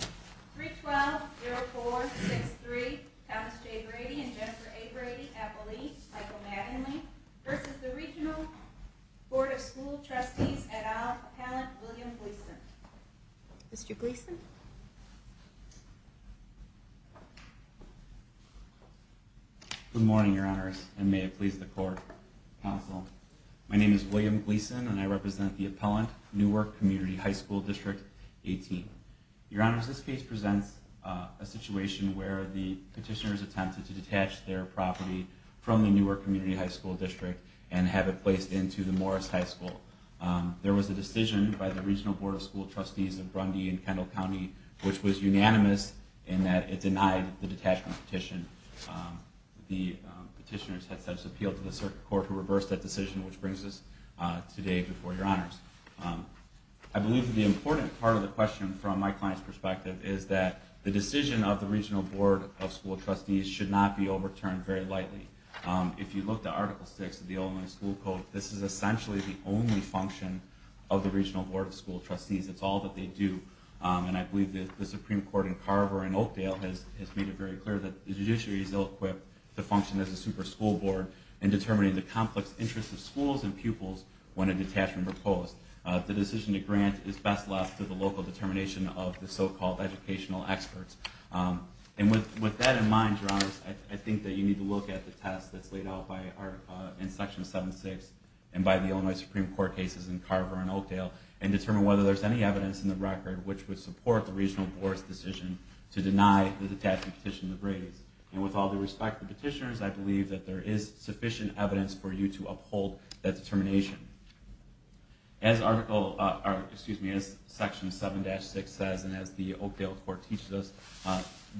312-0463 Thomas J. Brady and Jennifer A. Brady, Appellees Michael Maddenly versus the Regional Board of School Trustees et al. Appellant William Gleason. Mr. Gleason. Good morning, Your Honors, and may it please the Court, Counsel. My name is William Gleason and I represent the Appellant, Newark Community High School District 18. Your Honors, this case presents a situation where the petitioners attempted to detach their property from the Newark Community High School District and have it placed into the Morris High School. There was a decision by the Regional Board of School Trustees of Brundy and Kendall County which was unanimous in that it denied the detachment petition. The petitioners had such appeal to the Circuit Court who reversed that decision which brings us today before Your Honors. I believe that the important part of the question from my client's perspective is that the decision of the Regional Board of School Trustees should not be overturned very lightly. If you look at Article VI of the Illinois School Code, this is essentially the only function of the Regional Board of School Trustees. It's all that they do and I believe that the Supreme Court in Carver and Oakdale has made it very clear that the judiciary is ill-equipped to function as a super school board in determining the complex interests of schools and pupils when a detachment proposed. The decision to grant is best left to the local determination of the so-called educational experts. And with that in mind, Your Honors, I think that you need to look at the test that's laid out in Section 7-6 and by the Illinois Supreme Court cases in Carver and Oakdale and determine whether there's any evidence in the record which would support the Regional Board's decision to deny the detachment petition the grades. And with all due respect to the petitioners, I believe that there is sufficient evidence for you to uphold that determination. As Section 7-6 says and as the Oakdale Court teaches us,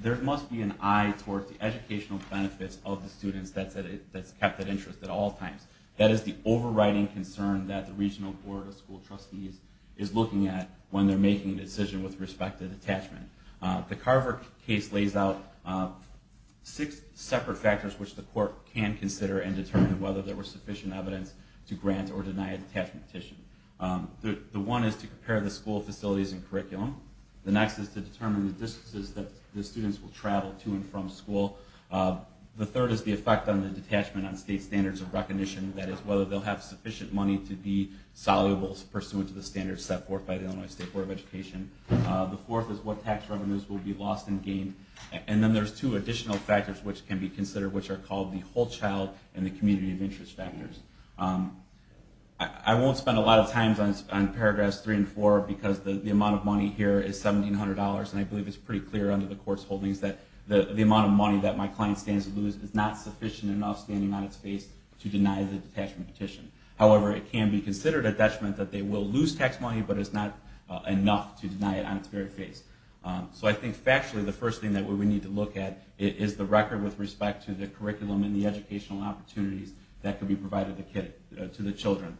there must be an eye toward the educational benefits of the students that's kept at interest at all times. That is the overriding concern that the Regional Board of School Trustees is looking at when they're making a decision with respect to detachment. The Carver case lays out six separate factors which the court can consider and determine whether there was sufficient evidence to grant or deny a detachment petition. The one is to compare the school facilities and curriculum. The next is to determine the distances that the students will travel to and from school. The third is the effect on the detachment on state standards of recognition, that is whether they'll have sufficient money to be soluble pursuant to the standards set forth by the Illinois State Board of Education. The fourth is what tax revenues will be lost and gained. And then there's two additional factors which can be considered which are called the whole child and the community of interest factors. I won't spend a lot of time on paragraphs 3 and 4 because the amount of money here is $1,700 and I believe it's pretty clear under the court's holdings that the amount of money that my client stands to lose is not sufficient enough standing on its face to deny the detachment petition. However, it can be considered a detachment that they will lose tax money but it's not enough to deny it on its very face. So I think factually the first thing that we need to look at is the record with respect to the curriculum and the educational opportunities that can be provided to the children.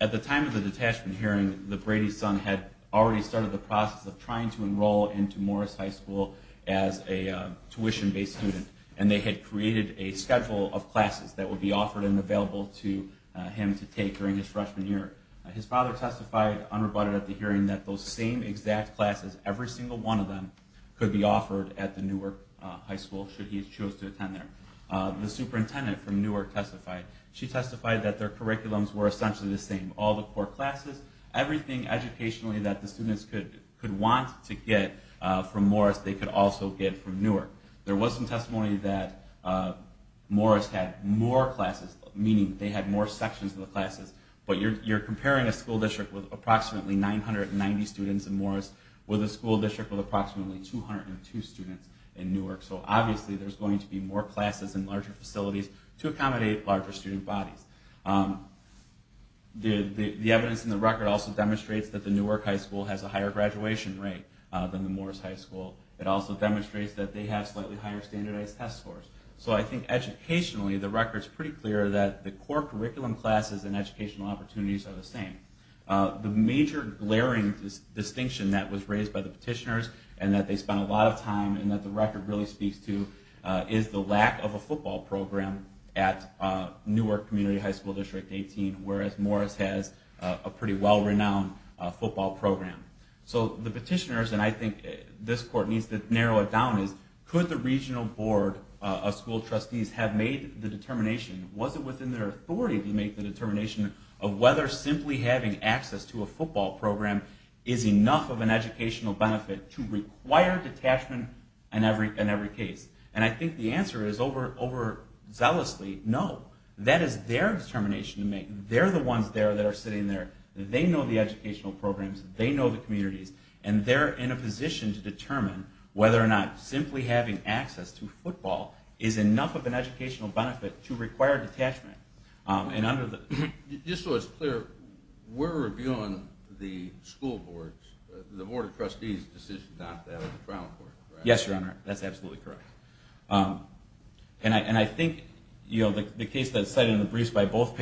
At the time of the detachment hearing, the Brady's son had already started the process of trying to enroll into Morris High School as a tuition-based student. And they had created a schedule of classes that would be offered and available to him to take during his freshman year. His father testified unrebutted at the hearing that those same exact classes, every single one of them, could be offered at the Newark High School should he choose to attend there. The superintendent from Newark testified. She testified that their curriculums were essentially the same. All the core classes, everything educationally that the students could want to get from Morris they could also get from Newark. There was some testimony that Morris had more classes, meaning they had more sections of the classes. But you're comparing a school district with approximately 990 students in Morris with a school district with approximately 202 students in Newark. So obviously there's going to be more classes and larger facilities to accommodate larger student bodies. The evidence in the record also demonstrates that the Newark High School has a higher graduation rate than the Morris High School. It also demonstrates that they have slightly higher standardized test scores. So I think educationally the record is pretty clear that the core curriculum classes and educational opportunities are the same. The major glaring distinction that was raised by the petitioners and that they spent a lot of time and that the record really speaks to is the lack of a football program at Newark Community High School District 18, whereas Morris has a pretty well-renowned football program. So the petitioners, and I think this court needs to narrow it down, is could the regional board of school trustees have made the determination, was it within their authority to make the determination of whether simply having access to a football program is enough of an educational benefit to require detachment in every case? And I think the answer is overzealously no. That is their determination to make. They're the ones there that are sitting there. They know the educational programs. They know the communities. And they're in a position to determine whether or not simply having access to football is enough of an educational benefit to require detachment. Just so it's clear, we're reviewing the school board's, the board of trustees' decision not to have it in the trial court, right? Yes, Your Honor, that's absolutely correct. And I think the case that's cited in the briefs by both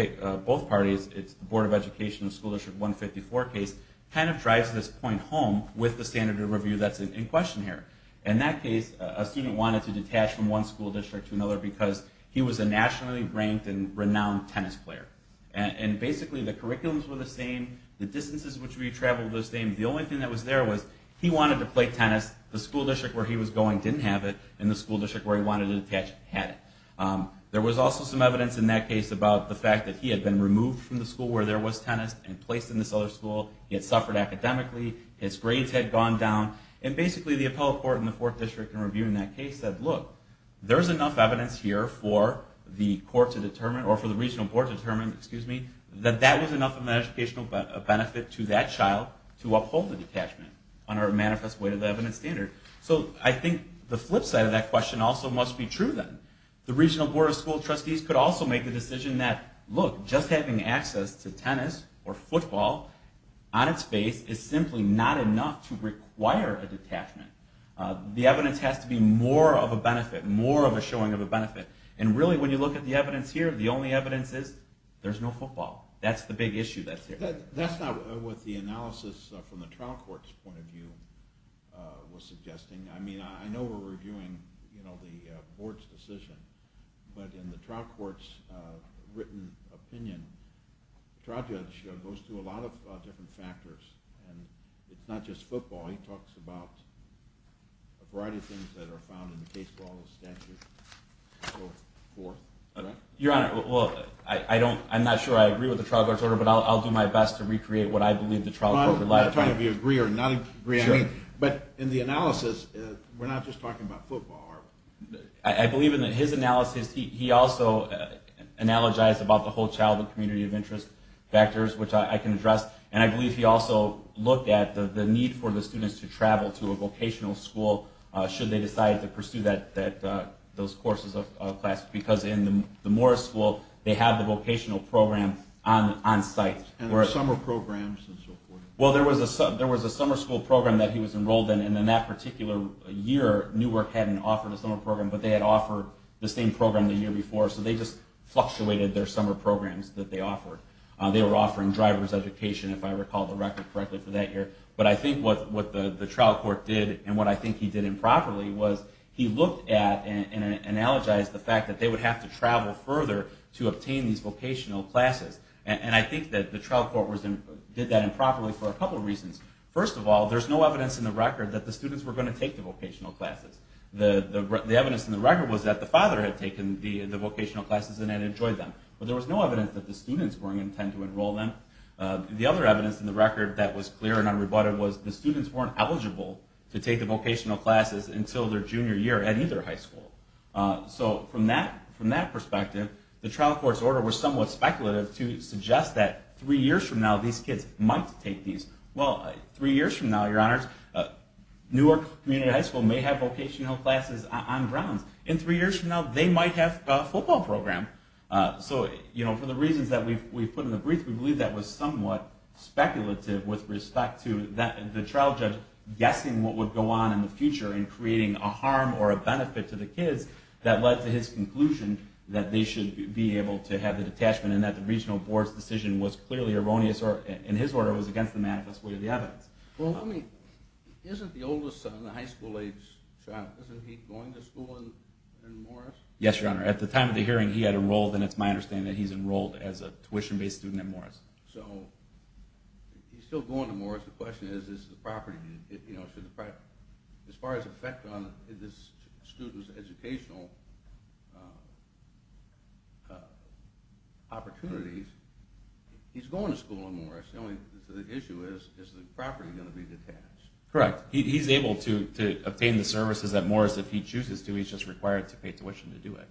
parties, it's the Board of Education School District 154 case, kind of drives this point home with the standard of review that's in question here. In that case, a student wanted to detach from one school district to another because he was a nationally ranked and renowned tennis player. And basically the curriculums were the same, the distances which we traveled was the same. The only thing that was there was he wanted to play tennis. The school district where he was going didn't have it. And the school district where he wanted to detach had it. There was also some evidence in that case about the fact that he had been removed from the school where there was tennis and placed in this other school. He had suffered academically. His grades had gone down. And basically the appellate court in the fourth district in reviewing that case said, look, there's enough evidence here for the court to withhold the detachment under a manifest way to the evidence standard. So I think the flip side of that question also must be true then. The regional board of school trustees could also make the decision that, look, just having access to tennis or football on its face is simply not enough to require a detachment. The evidence has to be more of a benefit, more of a showing of a benefit. And really when you look at the evidence here, the only evidence is there's no football. That's the big issue that's here. That's not what the analysis from the trial court's point of view was suggesting. I mean, I know we're reviewing the board's decision, but in the trial court's written opinion, the trial judge goes through a lot of different factors. And it's not just football. He talks about a variety of things that are found in the case law and the statute and so forth. Your Honor, well, I'm not sure I agree with the trial court's order, but I'll do my best to recreate what I believe the trial court would like. I'm not trying to be agree or not agree. I mean, but in the analysis, we're not just talking about football. I believe in his analysis, he also analogized about the whole childhood community of interest factors, which I can address. And I believe he also looked at the need for the students to travel to a vocational school should they decide to pursue those courses of education. In the Morris School, they have the vocational program on site. And the summer programs and so forth. Well, there was a summer school program that he was enrolled in, and in that particular year, Newark hadn't offered a summer program. But they had offered the same program the year before, so they just fluctuated their summer programs that they offered. They were offering driver's education, if I recall the record correctly, for that year. But I think what the trial court did, and what I think he did improperly, was he looked at and analogized the fact that they would have to travel further to obtain these vocational classes. And I think that the trial court did that improperly for a couple reasons. First of all, there's no evidence in the record that the students were going to take the vocational classes. The evidence in the record was that the father had taken the vocational classes and had enjoyed them. But there was no evidence that the students were going to intend to enroll them. The other evidence in the record that was clear and unrebutted was the students weren't eligible to take the vocational classes until their junior year at either high school. So from that perspective, the trial court's order was somewhat speculative to suggest that three years from now, these kids might take these. Well, three years from now, your honors, Newark Community High School may have vocational classes on grounds. In three years from now, they might have a football program. So for the reasons that we've put in the brief, we believe that was somewhat speculative with respect to the trial judge guessing what would go on in the future and creating a harm or a benefit to the kids that led to his conclusion that they should be able to have the detachment and that the regional board's decision was clearly erroneous or, in his order, was against the manifest way of the evidence. Well, isn't the oldest son, a high school age child, isn't he going to school in Morris? Yes, your honor. At the time of the hearing, he had enrolled, and it's my understanding that he's enrolled as a tuition-based student at Morris. So he's still going to Morris. The question is, is the property, you know, as far as effect on the student's educational opportunities, he's going to school in Morris. The only issue is, is the property going to be detached? Correct. He's able to obtain the services at Morris if he chooses to. He's just required to pay tuition to do it.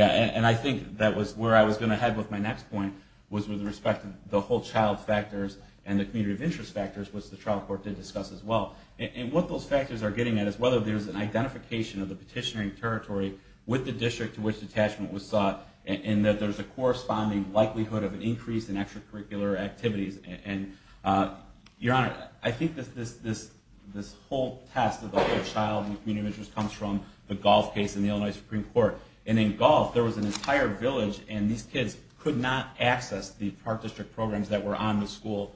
And I think that was where I was going to head with my next point, was with respect to the whole child factors and the community of interest factors, which the trial court did discuss as well. And what those factors are getting at is whether there's an identification of the petitioning territory with the district to which detachment was sought, and that there's a corresponding likelihood of an increase in extracurricular activities. And your honor, I think that this whole test of the whole child and community of interest comes from the golf case in the Illinois Supreme Court. And in golf, there was an entire village, and these kids could not access the park district programs that were on the school,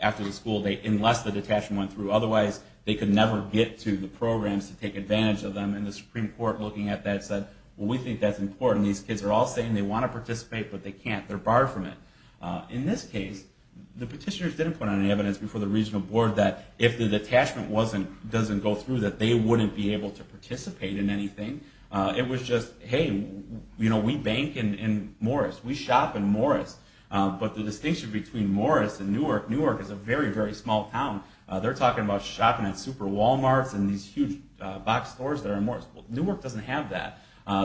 after the school date, unless the detachment went through. Otherwise, they could never get to the programs to take advantage of them. And the Supreme Court, looking at that, said, well, we think that's important. These kids are all saying they want to participate, but they can't. They're barred from it. In this case, the petitioners didn't put any evidence before the regional board that if the detachment doesn't go through, that they wouldn't be able to participate in anything. It was just, hey, we bank in Morris. We shop in Morris. But the distinction between Morris and Newark, Newark is a very, very small town. They're talking about shopping at super Walmarts and these huge box stores that are in Morris. Newark doesn't have that.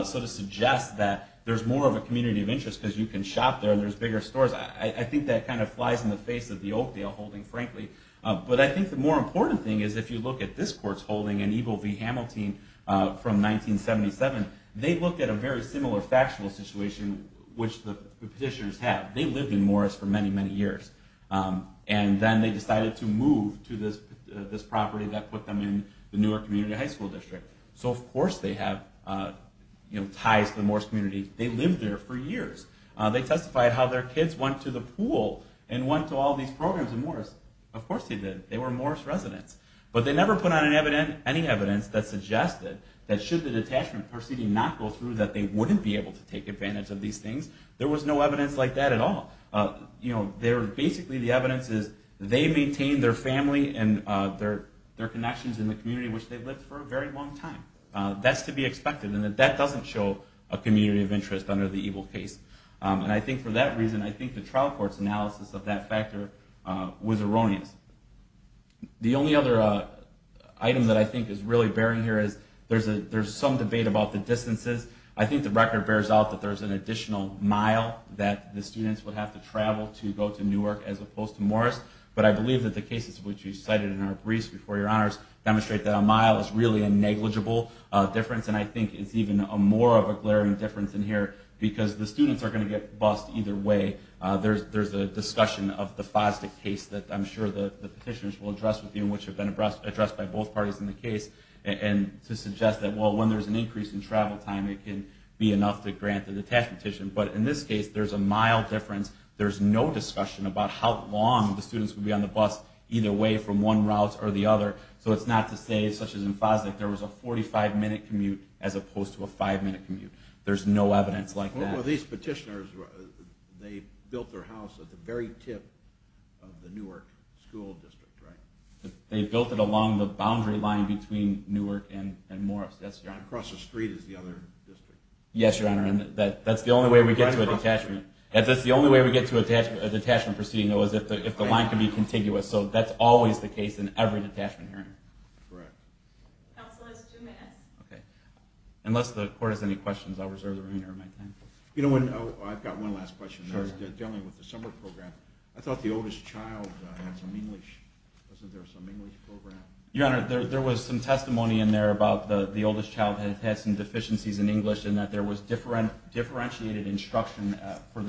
So to suggest that there's more of a community of interest, because you can shop there, and there's bigger stores, I think that kind of flies in the face of the Oakdale holding, frankly. But I think the more important thing is, if you look at this court's holding in Eagle v. Hamilton from 1977, they looked at a very similar factual situation, which the petitioners have. They lived in Morris for many, many years. And then they decided to move to this property that put them in the Newark Community High School District. So of course they have ties to the Morris community. They lived there for years. They testified how their kids went to the pool and went to all these programs in Morris. Of course they did. They were Morris residents. But they never put on any evidence that suggested that should the detachment proceeding not go through, that they wouldn't be able to take advantage of these things. There was no evidence like that at all. Basically, the evidence is they maintained their family and their connections in the community, which they've lived for a very long time. That's to be expected. And that doesn't show a community of interest under the Eagle case. And I think for that reason, I think the trial court's analysis of that factor was erroneous. The only other item that I think is really bearing here is there's some debate about the distances. I think the record bears out that there's an additional mile that the students would have to travel to go to Newark as opposed to Morris. But I believe that the cases which you cited in our briefs before your honors demonstrate that a mile is really a negligible difference. And I think it's even more of a glaring difference in here because the students are going to get bused either way. There's a discussion of the FOSDIC case that I'm sure the petitioners will address with you, which have been addressed by both parties in the case, and to suggest that, well, when there's an increase in travel time, it can be enough to grant the detachment petition. But in this case, there's a mile difference. There's no discussion about how long the students would be on the bus either way from one route or the other. So it's not to say, such as in FOSDIC, there was a 45-minute commute as opposed to a 5-minute commute. There's no evidence like that. Well, these petitioners, they built their house at the very tip of the Newark school district, right? They built it along the boundary line between Newark and Morris, yes, Your Honor. Across the street is the other district. Yes, Your Honor, and that's the only way we get to a detachment. That's the only way we get to a detachment proceeding, though, is if the line can be contiguous. So that's always the case in every detachment hearing. Correct. Counsel is two minutes. Okay. Unless the Court has any questions, I'll reserve the remainder of my time. You know, I've got one last question. Sure. Dealing with the summer program, I thought the oldest child had some English. Wasn't there some English program? Your Honor, there was some testimony in there about the oldest child had had some deficiencies in English and that there was for the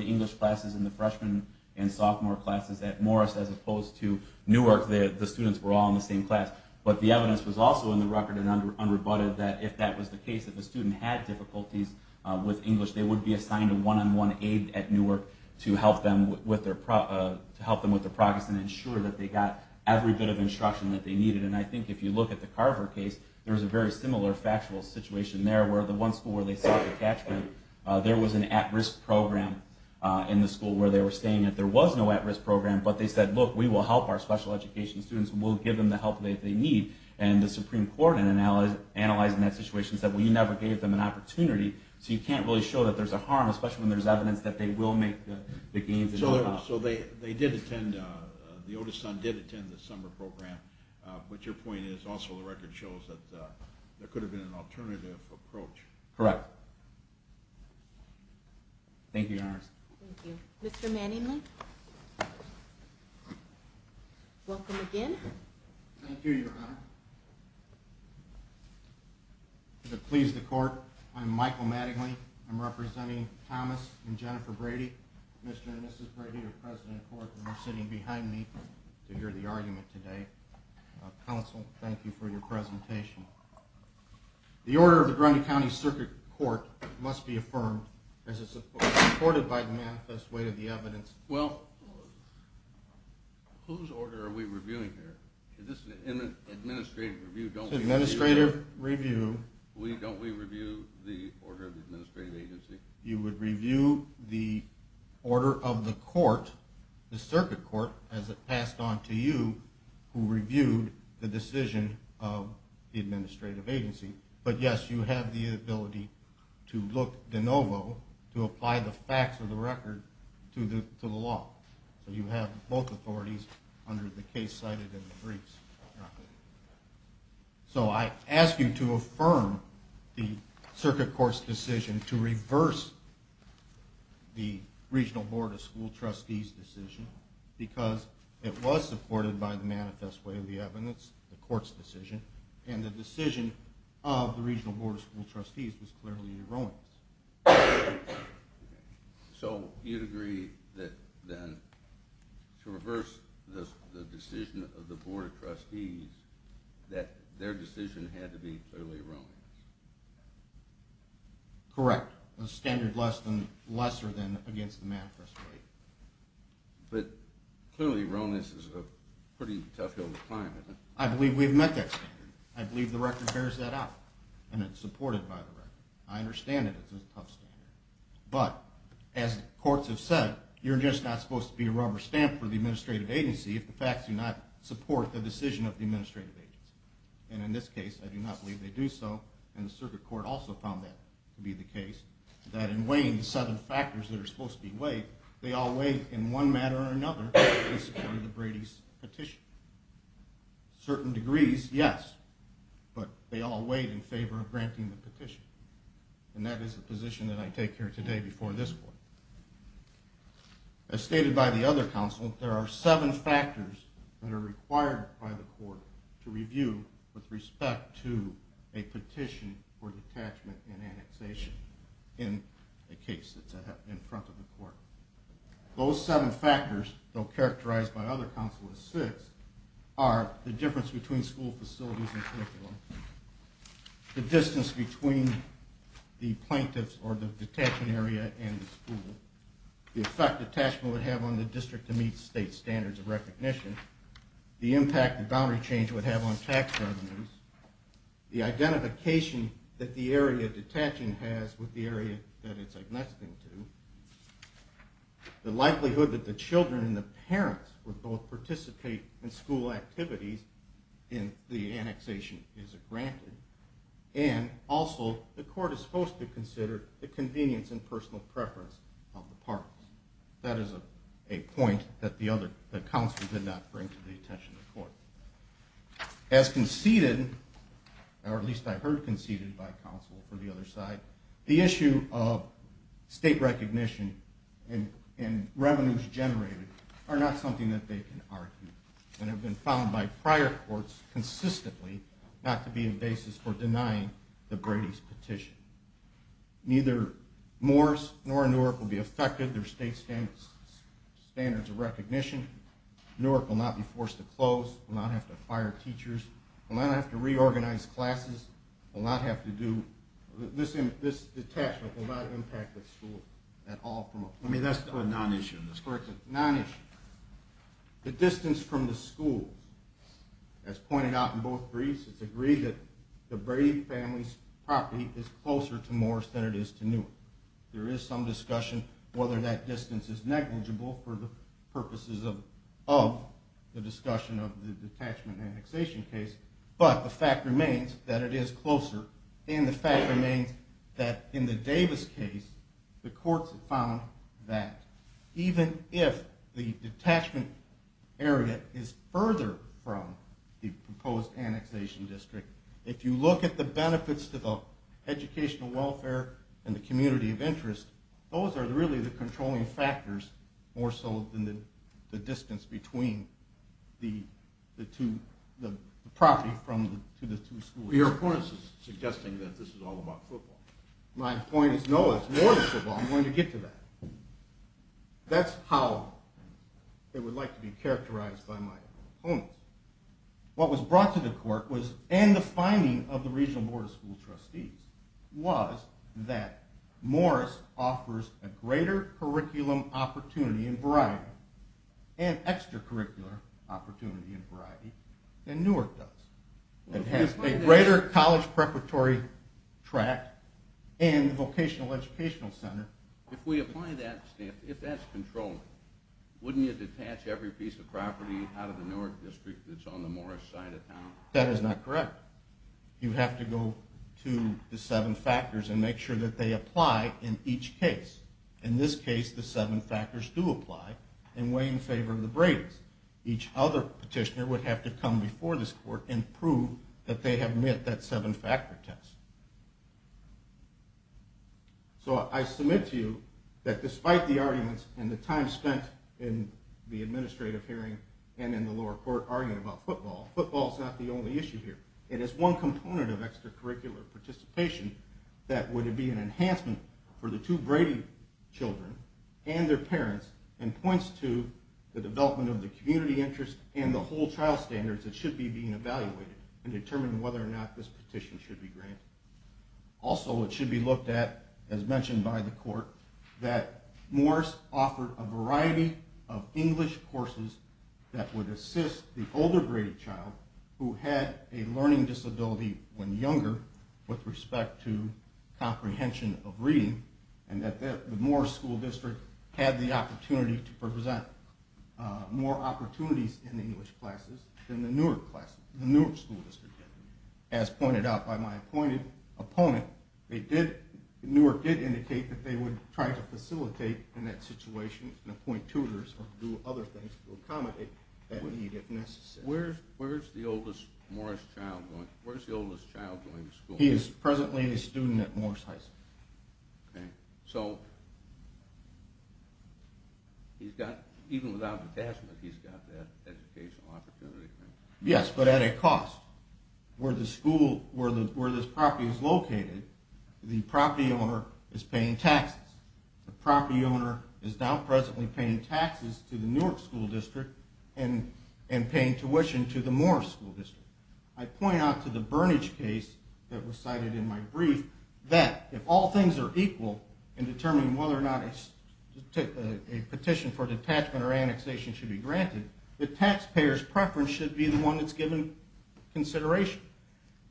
English classes in the freshman and sophomore classes at Morris as opposed to Newark, the students were all in the same class. But the evidence was also in the record and unrebutted that if that was the case, if a student had difficulties with English, they would be assigned a one-on-one aide at Newark to help them with their progress and ensure that they got every bit of instruction that they needed. And I think if you look at the Carver case, there was a very similar factual situation there where the one school where they sought detachment, there was an at-risk program in the school where they were staying. There was no at-risk program, but they said, look, we will help our special education students and we'll give them the help that they need. And the Supreme Court, in analyzing that situation, said, well, you never gave them an opportunity, so you can't really show that there's a harm, especially when there's evidence that they will make the gains. So they did attend, the oldest son did attend the summer program. But your point is also the record shows that there could have been an alternative approach. Correct. Thank you, Your Honor. Thank you. Mr. Manningly, welcome again. Thank you, Your Honor. To please the Court, I'm Michael Manningly. I'm representing Thomas and Jennifer Brady. Mr. and Mrs. Brady are present in court and are sitting behind me to hear the argument today. Counsel, thank you for your presentation. The order of the Grundy County Circuit Court must be affirmed as it's supported by the manifest weight of the evidence. Well, whose order are we reviewing here? Is this an administrative review? Administrative review. Don't we review the order of the administrative agency? You would review the order of the court, the circuit court, as it passed on to you, who reviewed the decision of the administrative agency. But, yes, you have the ability to look de novo, to apply the facts of the record to the law. So you have both authorities under the case cited in the briefs. So I ask you to affirm the circuit court's decision to reverse the Regional Board of School Trustees' decision because it was supported by the manifest weight of the evidence, the court's decision, and the decision of the Regional Board of School Trustees was clearly erroneous. So you'd agree that then, to reverse the decision of the Board of Trustees, that their decision had to be clearly erroneous. Correct. A standard lesser than against the manifest weight. But clearly erroneous is a pretty tough hill to climb, isn't it? I believe we've met that standard. I believe the record bears that out and it's supported by the record. I understand that it's a tough standard. But, as courts have said, you're just not supposed to be a rubber stamp for the administrative agency if the facts do not support the decision of the administrative agency. And in this case, I do not believe they do so, and the circuit court also found that to be the case, that in weighing the seven factors that are supposed to be weighed, they all weighed in one manner or another in support of the Brady's petition. Certain degrees, yes, but they all weighed in favor of granting the petition. And that is the position that I take here today before this court. As stated by the other counsel, there are seven factors that are required by the court to review with respect to a petition for detachment and annexation in a case that's in front of the court. Those seven factors, though characterized by other counsel as six, are the difference between school facilities and curriculum, the distance between the plaintiffs or the detachment area and the school, the effect detachment would have on the district to meet state standards of recognition, the impact that boundary change would have on tax revenues, the identification that the area detaching has with the area that it's annexing to, the likelihood that the children and the parents would both participate in school activities if the annexation is granted, and also the court is supposed to consider the convenience and personal preference of the parties. That is a point that the other counsel did not bring to the attention of the court. As conceded, or at least I heard conceded by counsel for the other side, the issue of state recognition and revenues generated are not something that they can argue and have been found by prior courts consistently not to be a basis for denying the Brady's petition. Neither Morris nor Newark will be affected. There are state standards of recognition. Newark will not be forced to close, will not have to fire teachers, will not have to reorganize classes, will not have to do, this detachment will not impact the school at all. I mean that's the non-issue in this case. Non-issue. The distance from the schools, as pointed out in both briefs, it's agreed that the Brady family's property is closer to Morris than it is to Newark. There is some discussion whether that distance is negligible for the purposes of the discussion of the detachment annexation case, but the fact remains that it is closer, and the fact remains that in the Davis case, the courts have found that even if the detachment area is further from the proposed annexation district, if you look at the benefits to the educational welfare and the community of interest, those are really the controlling factors, more so than the distance between the property to the two schools. Your opponent is suggesting that this is all about football. My point is no, it's more than football. I'm going to get to that. That's how it would like to be characterized by my opponents. What was brought to the court and the finding of the regional board of school trustees was that Morris offers a greater curriculum opportunity and variety, an extracurricular opportunity and variety, than Newark does. It has a greater college preparatory track and vocational educational center. If we apply that, if that's controlling, wouldn't you detach every piece of property out of the Newark district that's on the Morris side of town? That is not correct. You have to go to the seven factors and make sure that they apply in each case. In this case, the seven factors do apply and weigh in favor of the Brady's. Each other petitioner would have to come before this court and prove that they have met that seven-factor test. So I submit to you that despite the arguments and the time spent in the administrative hearing and in the lower court arguing about football, football is not the only issue here. It is one component of extracurricular participation that would be an enhancement for the two Brady children and their parents and points to the development of the community interest and the whole trial standards that should be being evaluated and determine whether or not this petition should be granted. Also, it should be looked at, as mentioned by the court, that Morris offered a variety of English courses that would assist the older Brady child, who had a learning disability when younger with respect to comprehension of reading, and that the Morris school district had the opportunity to present more opportunities in the English classes than the Newark classes. As pointed out by my appointed opponent, Newark did indicate that they would try to facilitate in that situation and appoint tutors to do other things to accommodate that need if necessary. Where is the oldest Morris child going to school? He is presently a student at Morris High School. So even without a tasks, he's got that educational opportunity? Yes, but at a cost. Where this property is located, the property owner is paying taxes. The property owner is now presently paying taxes to the Newark school district and paying tuition to the Morris school district. I point out to the Burnage case that was cited in my brief that if all things are equal in determining whether or not a petition for detachment or annexation should be granted, the taxpayer's preference should be the one that's given consideration.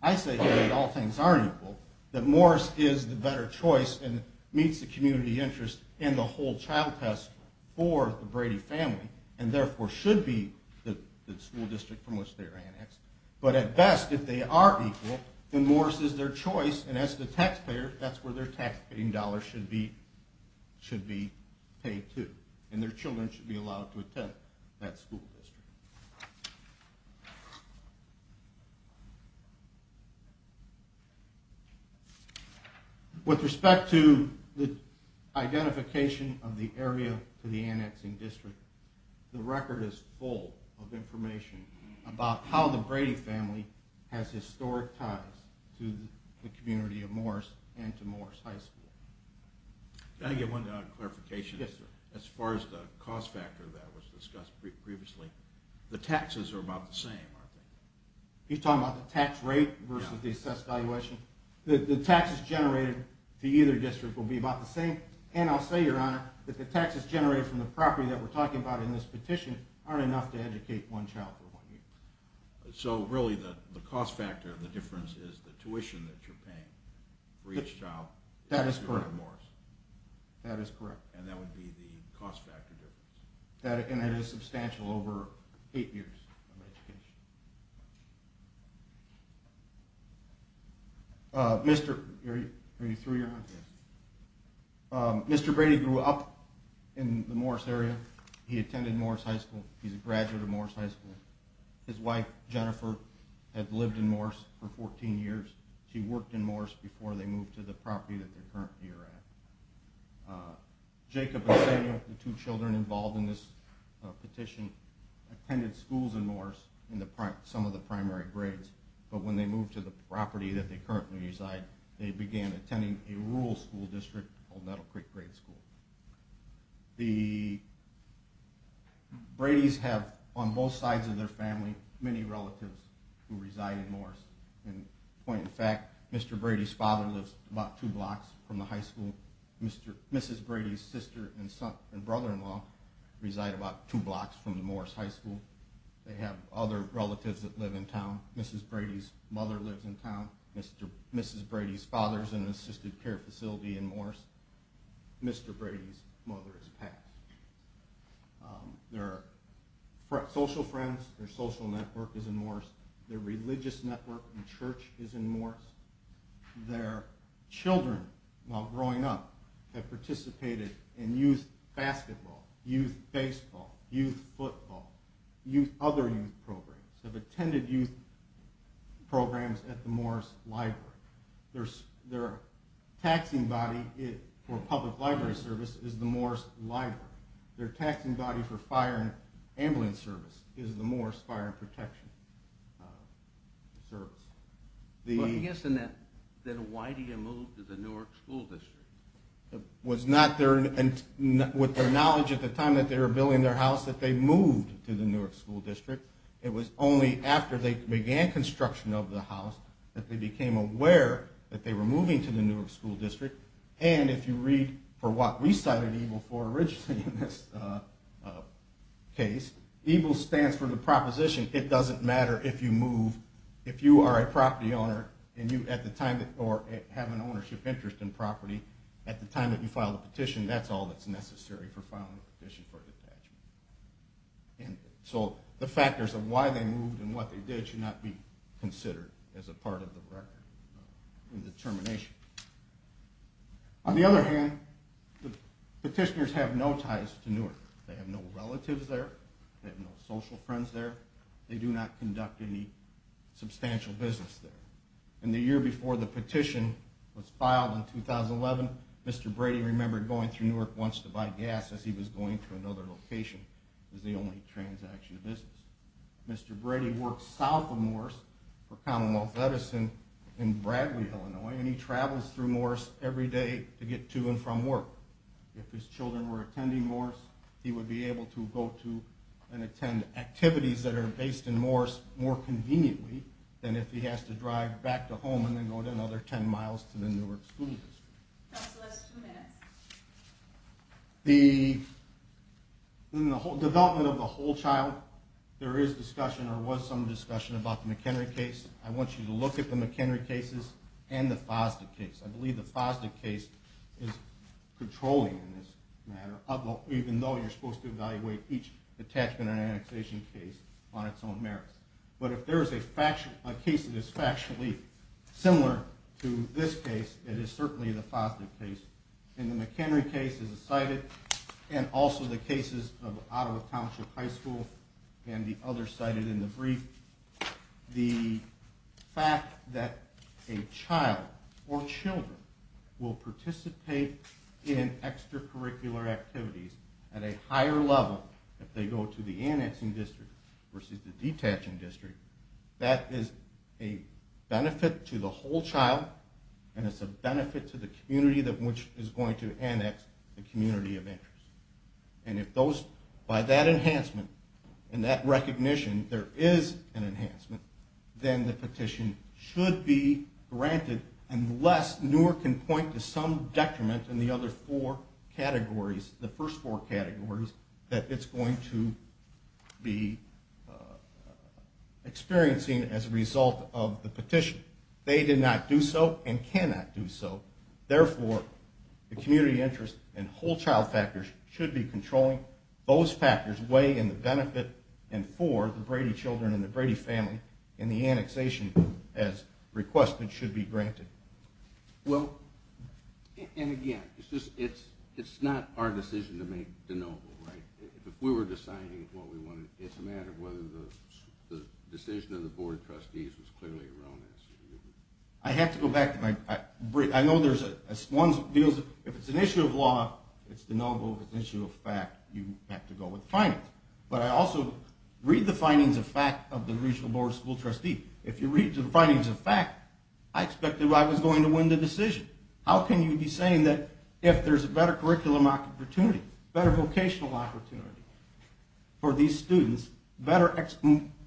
I say here that all things are equal, that Morris is the better choice and meets the community interest and the whole child test for the Brady family and therefore should be the school district from which they are annexed. But at best, if they are equal, then Morris is their choice and as the taxpayer, that's where their taxpaying dollars should be paid to and their children should be allowed to attend that school district. With respect to the identification of the area for the annexing district, the record is full of information about how the Brady family has historic ties to the community of Morris and to Morris High School. Can I get one clarification? Yes, sir. As far as the cost factor that was discussed previously, the taxes are about the same, aren't they? You're talking about the tax rate versus the assessed valuation? The taxes generated to either district will be about the same and I'll say, Your Honor, that the taxes generated from the property that we're talking about in this petition aren't enough to educate one child for one year. So really the cost factor, the difference is the tuition that you're paying for each child? That is correct. That is correct. And that would be the cost factor difference? And that is substantial over eight years of education. Mr. Brady grew up in the Morris area. He attended Morris High School. He's a graduate of Morris High School. His wife, Jennifer, had lived in Morris for 14 years. She worked in Morris before they moved to the property that they're currently at. Jacob and Samuel, the two children involved in this petition, attended schools in Morris in some of the primary grades, but when they moved to the property that they currently reside, they began attending a rural school district called Nettle Creek Grade School. The Bradys have, on both sides of their family, many relatives who reside in Morris. In point of fact, Mr. Brady's father lives about two blocks from the high school. Mrs. Brady's sister and brother-in-law reside about two blocks from the Morris High School. They have other relatives that live in town. Mrs. Brady's mother lives in town. Mrs. Brady's father is in an assisted care facility in Morris. Mr. Brady's mother has passed. Their social friends, their social network, is in Morris. Their religious network and church is in Morris. Their children, while growing up, have participated in youth basketball, youth baseball, youth football, other youth programs, have attended youth programs at the Morris Library. Their taxing body for public library service is the Morris Library. Their taxing body for fire and ambulance service is the Morris Fire and Protection Service. I guess then why do you move to the Newark School District? It was not with their knowledge at the time that they were building their house that they moved to the Newark School District. It was only after they began construction of the house that they became aware that they were moving to the Newark School District. And if you read for what we cited EGLE for originally in this case, EGLE stands for the proposition it doesn't matter if you move, if you are a property owner or have an ownership interest in property, at the time that you file a petition, that's all that's necessary for filing a petition for detachment. So the factors of why they moved and what they did should not be On the other hand, the petitioners have no ties to Newark. They have no relatives there. They have no social friends there. They do not conduct any substantial business there. In the year before the petition was filed in 2011, Mr. Brady remembered going through Newark once to buy gas as he was going to another location. It was the only transaction business. Mr. Brady worked south of Morris for Commonwealth Edison in Bradley, Illinois, and he travels through Morris every day to get to and from work. If his children were attending Morris, he would be able to go to and attend activities that are based in Morris more conveniently than if he has to drive back to home and then go another 10 miles to the Newark School District. That's the last two minutes. In the development of the whole child, there is discussion or was some discussion about the McHenry case. I want you to look at the McHenry cases and the Fosdick case. I believe the Fosdick case is controlling in this matter, even though you're supposed to evaluate each attachment and annexation case on its own merits. But if there is a case that is factually similar to this case, it is certainly the Fosdick case. The McHenry case is cited, and also the cases of Ottawa Township High School and the others cited in the brief. The fact that a child or children will participate in extracurricular activities at a higher level if they go to the annexing district versus the detaching district, that is a benefit to the whole child, and it's a benefit to the community which is going to annex the community of interest. And if those, by that enhancement and that recognition, there is an enhancement, then the petition should be granted unless Newark can point to some detriment in the other four categories, the first four categories, that it's going to be experiencing as a result of the petition. They did not do so and cannot do so. Therefore, the community interest and whole child factors should be controlling. Those factors weigh in the benefit and for the Brady children and the Brady family, and the annexation, as requested, should be granted. Well, and again, it's not our decision to make de novo, right? If we were deciding what we wanted, it's a matter of whether the decision of the board of trustees was clearly erroneous. I have to go back to my brief. I know there's one deal. If it's an issue of law, it's de novo. If it's an issue of fact, you have to go with the findings. But I also read the findings of fact of the regional board of school trustees. If you read the findings of fact, I expected I was going to win the decision. How can you be saying that if there's a better curriculum opportunity, better vocational opportunity for these students,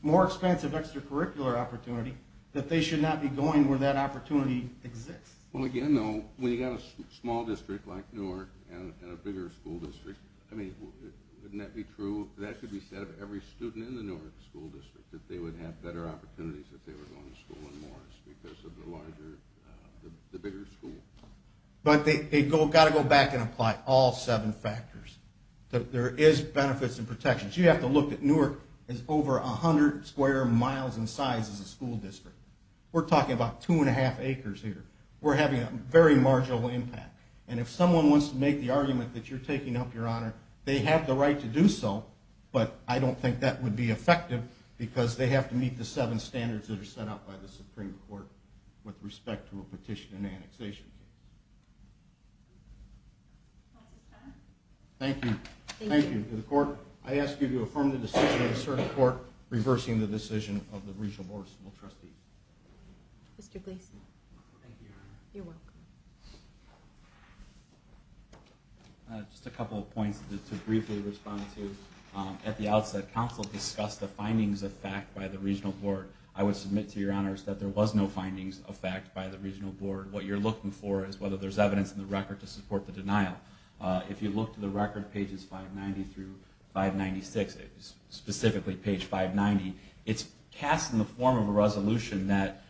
more expensive extracurricular opportunity, that they should not be going where that opportunity exists? Well, again, though, when you've got a small district like Newark and a bigger school district, wouldn't that be true? That could be said of every student in the Newark school district, that they would have better opportunities if they were going to school in Morris because of the larger, the bigger school. But they've got to go back and apply all seven factors. There is benefits and protections. You have to look at Newark as over 100 square miles in size as a school district. We're talking about 2 1⁄2 acres here. We're having a very marginal impact. And if someone wants to make the argument that you're taking up your honor, they have the right to do so, but I don't think that would be effective because they have to meet the seven standards that are set out by the Supreme Court with respect to a petition and annexation case. Thank you. Thank you. To the court, I ask you to affirm the decision of the circuit court reversing the decision of the regional board of civil trustees. Mr. Gleason. Thank you, your honor. You're welcome. Just a couple of points to briefly respond to. At the outset, council discussed the findings of fact by the regional board. I would submit to your honors that there was no findings of fact by the regional board. What you're looking for is whether there's evidence in the record to support the denial. If you look to the record, pages 590 through 596, specifically page 590, it's cast in the form of a resolution that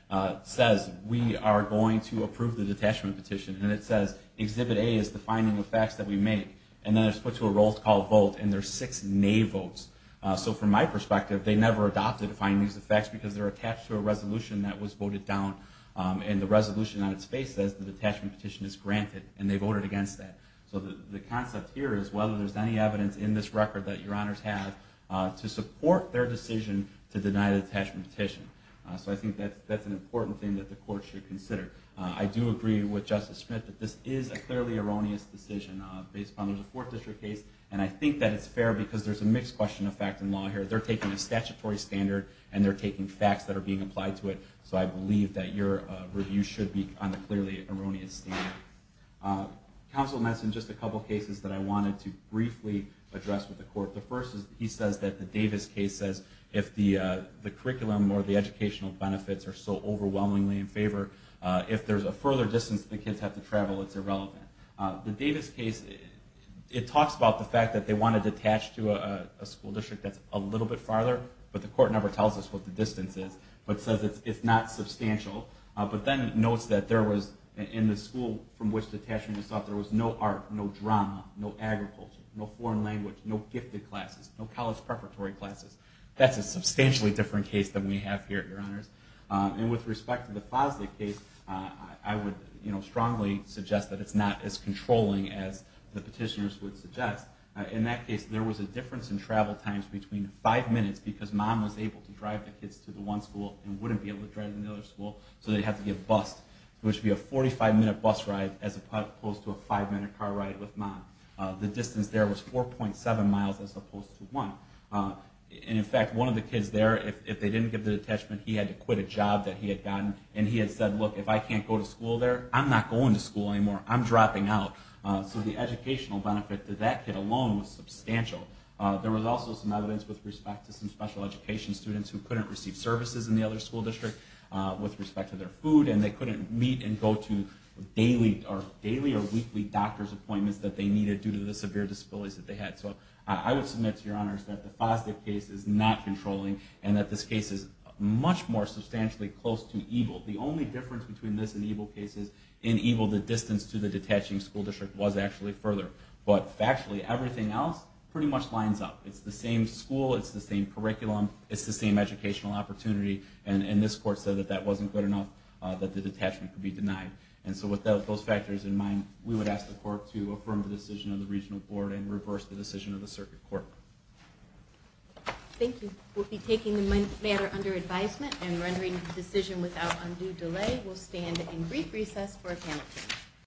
says, we are going to approve the detachment petition, and it says Exhibit A is defining the facts that we make. And then it's put to a roll call vote, and there's six nay votes. So from my perspective, they never adopted the findings of facts because they're attached to a resolution that was voted down, and the resolution on its face says the detachment petition is granted, and they voted against that. So the concept here is whether there's any evidence in this record that your honors have to support their decision to deny the detachment petition. So I think that's an important thing that the court should consider. I do agree with Justice Smith that this is a clearly erroneous decision based on the fourth district case, and I think that it's fair because there's a mixed question of fact and law here. They're taking a statutory standard, and they're taking facts that are being applied to it. So I believe that your review should be on the clearly erroneous standard. Counsel mentioned just a couple cases that I wanted to briefly address with the court. The first is he says that the Davis case says if the curriculum or the educational benefits are so overwhelmingly in favor, if there's a further distance that the kids have to travel, it's irrelevant. The Davis case, it talks about the fact that they wanted to attach to a school district that's a little bit farther, but the court never tells us what the distance is, but says it's not substantial. But then it notes that in the school from which the detachment was sought, there was no art, no drama, no agriculture, no foreign language, no gifted classes, no college preparatory classes. That's a substantially different case than we have here, your honors. And with respect to the Fosley case, I would strongly suggest that it's not as controlling as the petitioners would suggest. In that case, there was a difference in travel times between five minutes, because mom was able to drive the kids to the one school and wouldn't be able to drive them to the other school, so they'd have to get bussed. It would be a 45-minute bus ride as opposed to a five-minute car ride with mom. The distance there was 4.7 miles as opposed to one. And in fact, one of the kids there, if they didn't get the detachment, he had to quit a job that he had gotten, and he had said, look, if I can't go to school there, I'm not going to school anymore. I'm dropping out. So the educational benefit to that kid alone was substantial. There was also some evidence with respect to some special education students who couldn't receive services in the other school district with respect to their food, and they couldn't meet and go to daily or weekly doctor's appointments that they needed due to the severe disabilities that they had. So I would submit to your honors that the Fosley case is not controlling and that this case is much more substantially close to evil. The only difference between this and evil cases in evil, the distance to the detaching school district, was actually further. But factually, everything else pretty much lines up. It's the same school. It's the same curriculum. It's the same educational opportunity. And this court said that that wasn't good enough, that the detachment could be denied. And so with those factors in mind, we would ask the court to affirm the decision of the regional board and reverse the decision of the circuit court. Thank you. We'll be taking the matter under advisement and rendering the decision without undue delay. We'll stand in brief recess for appeal.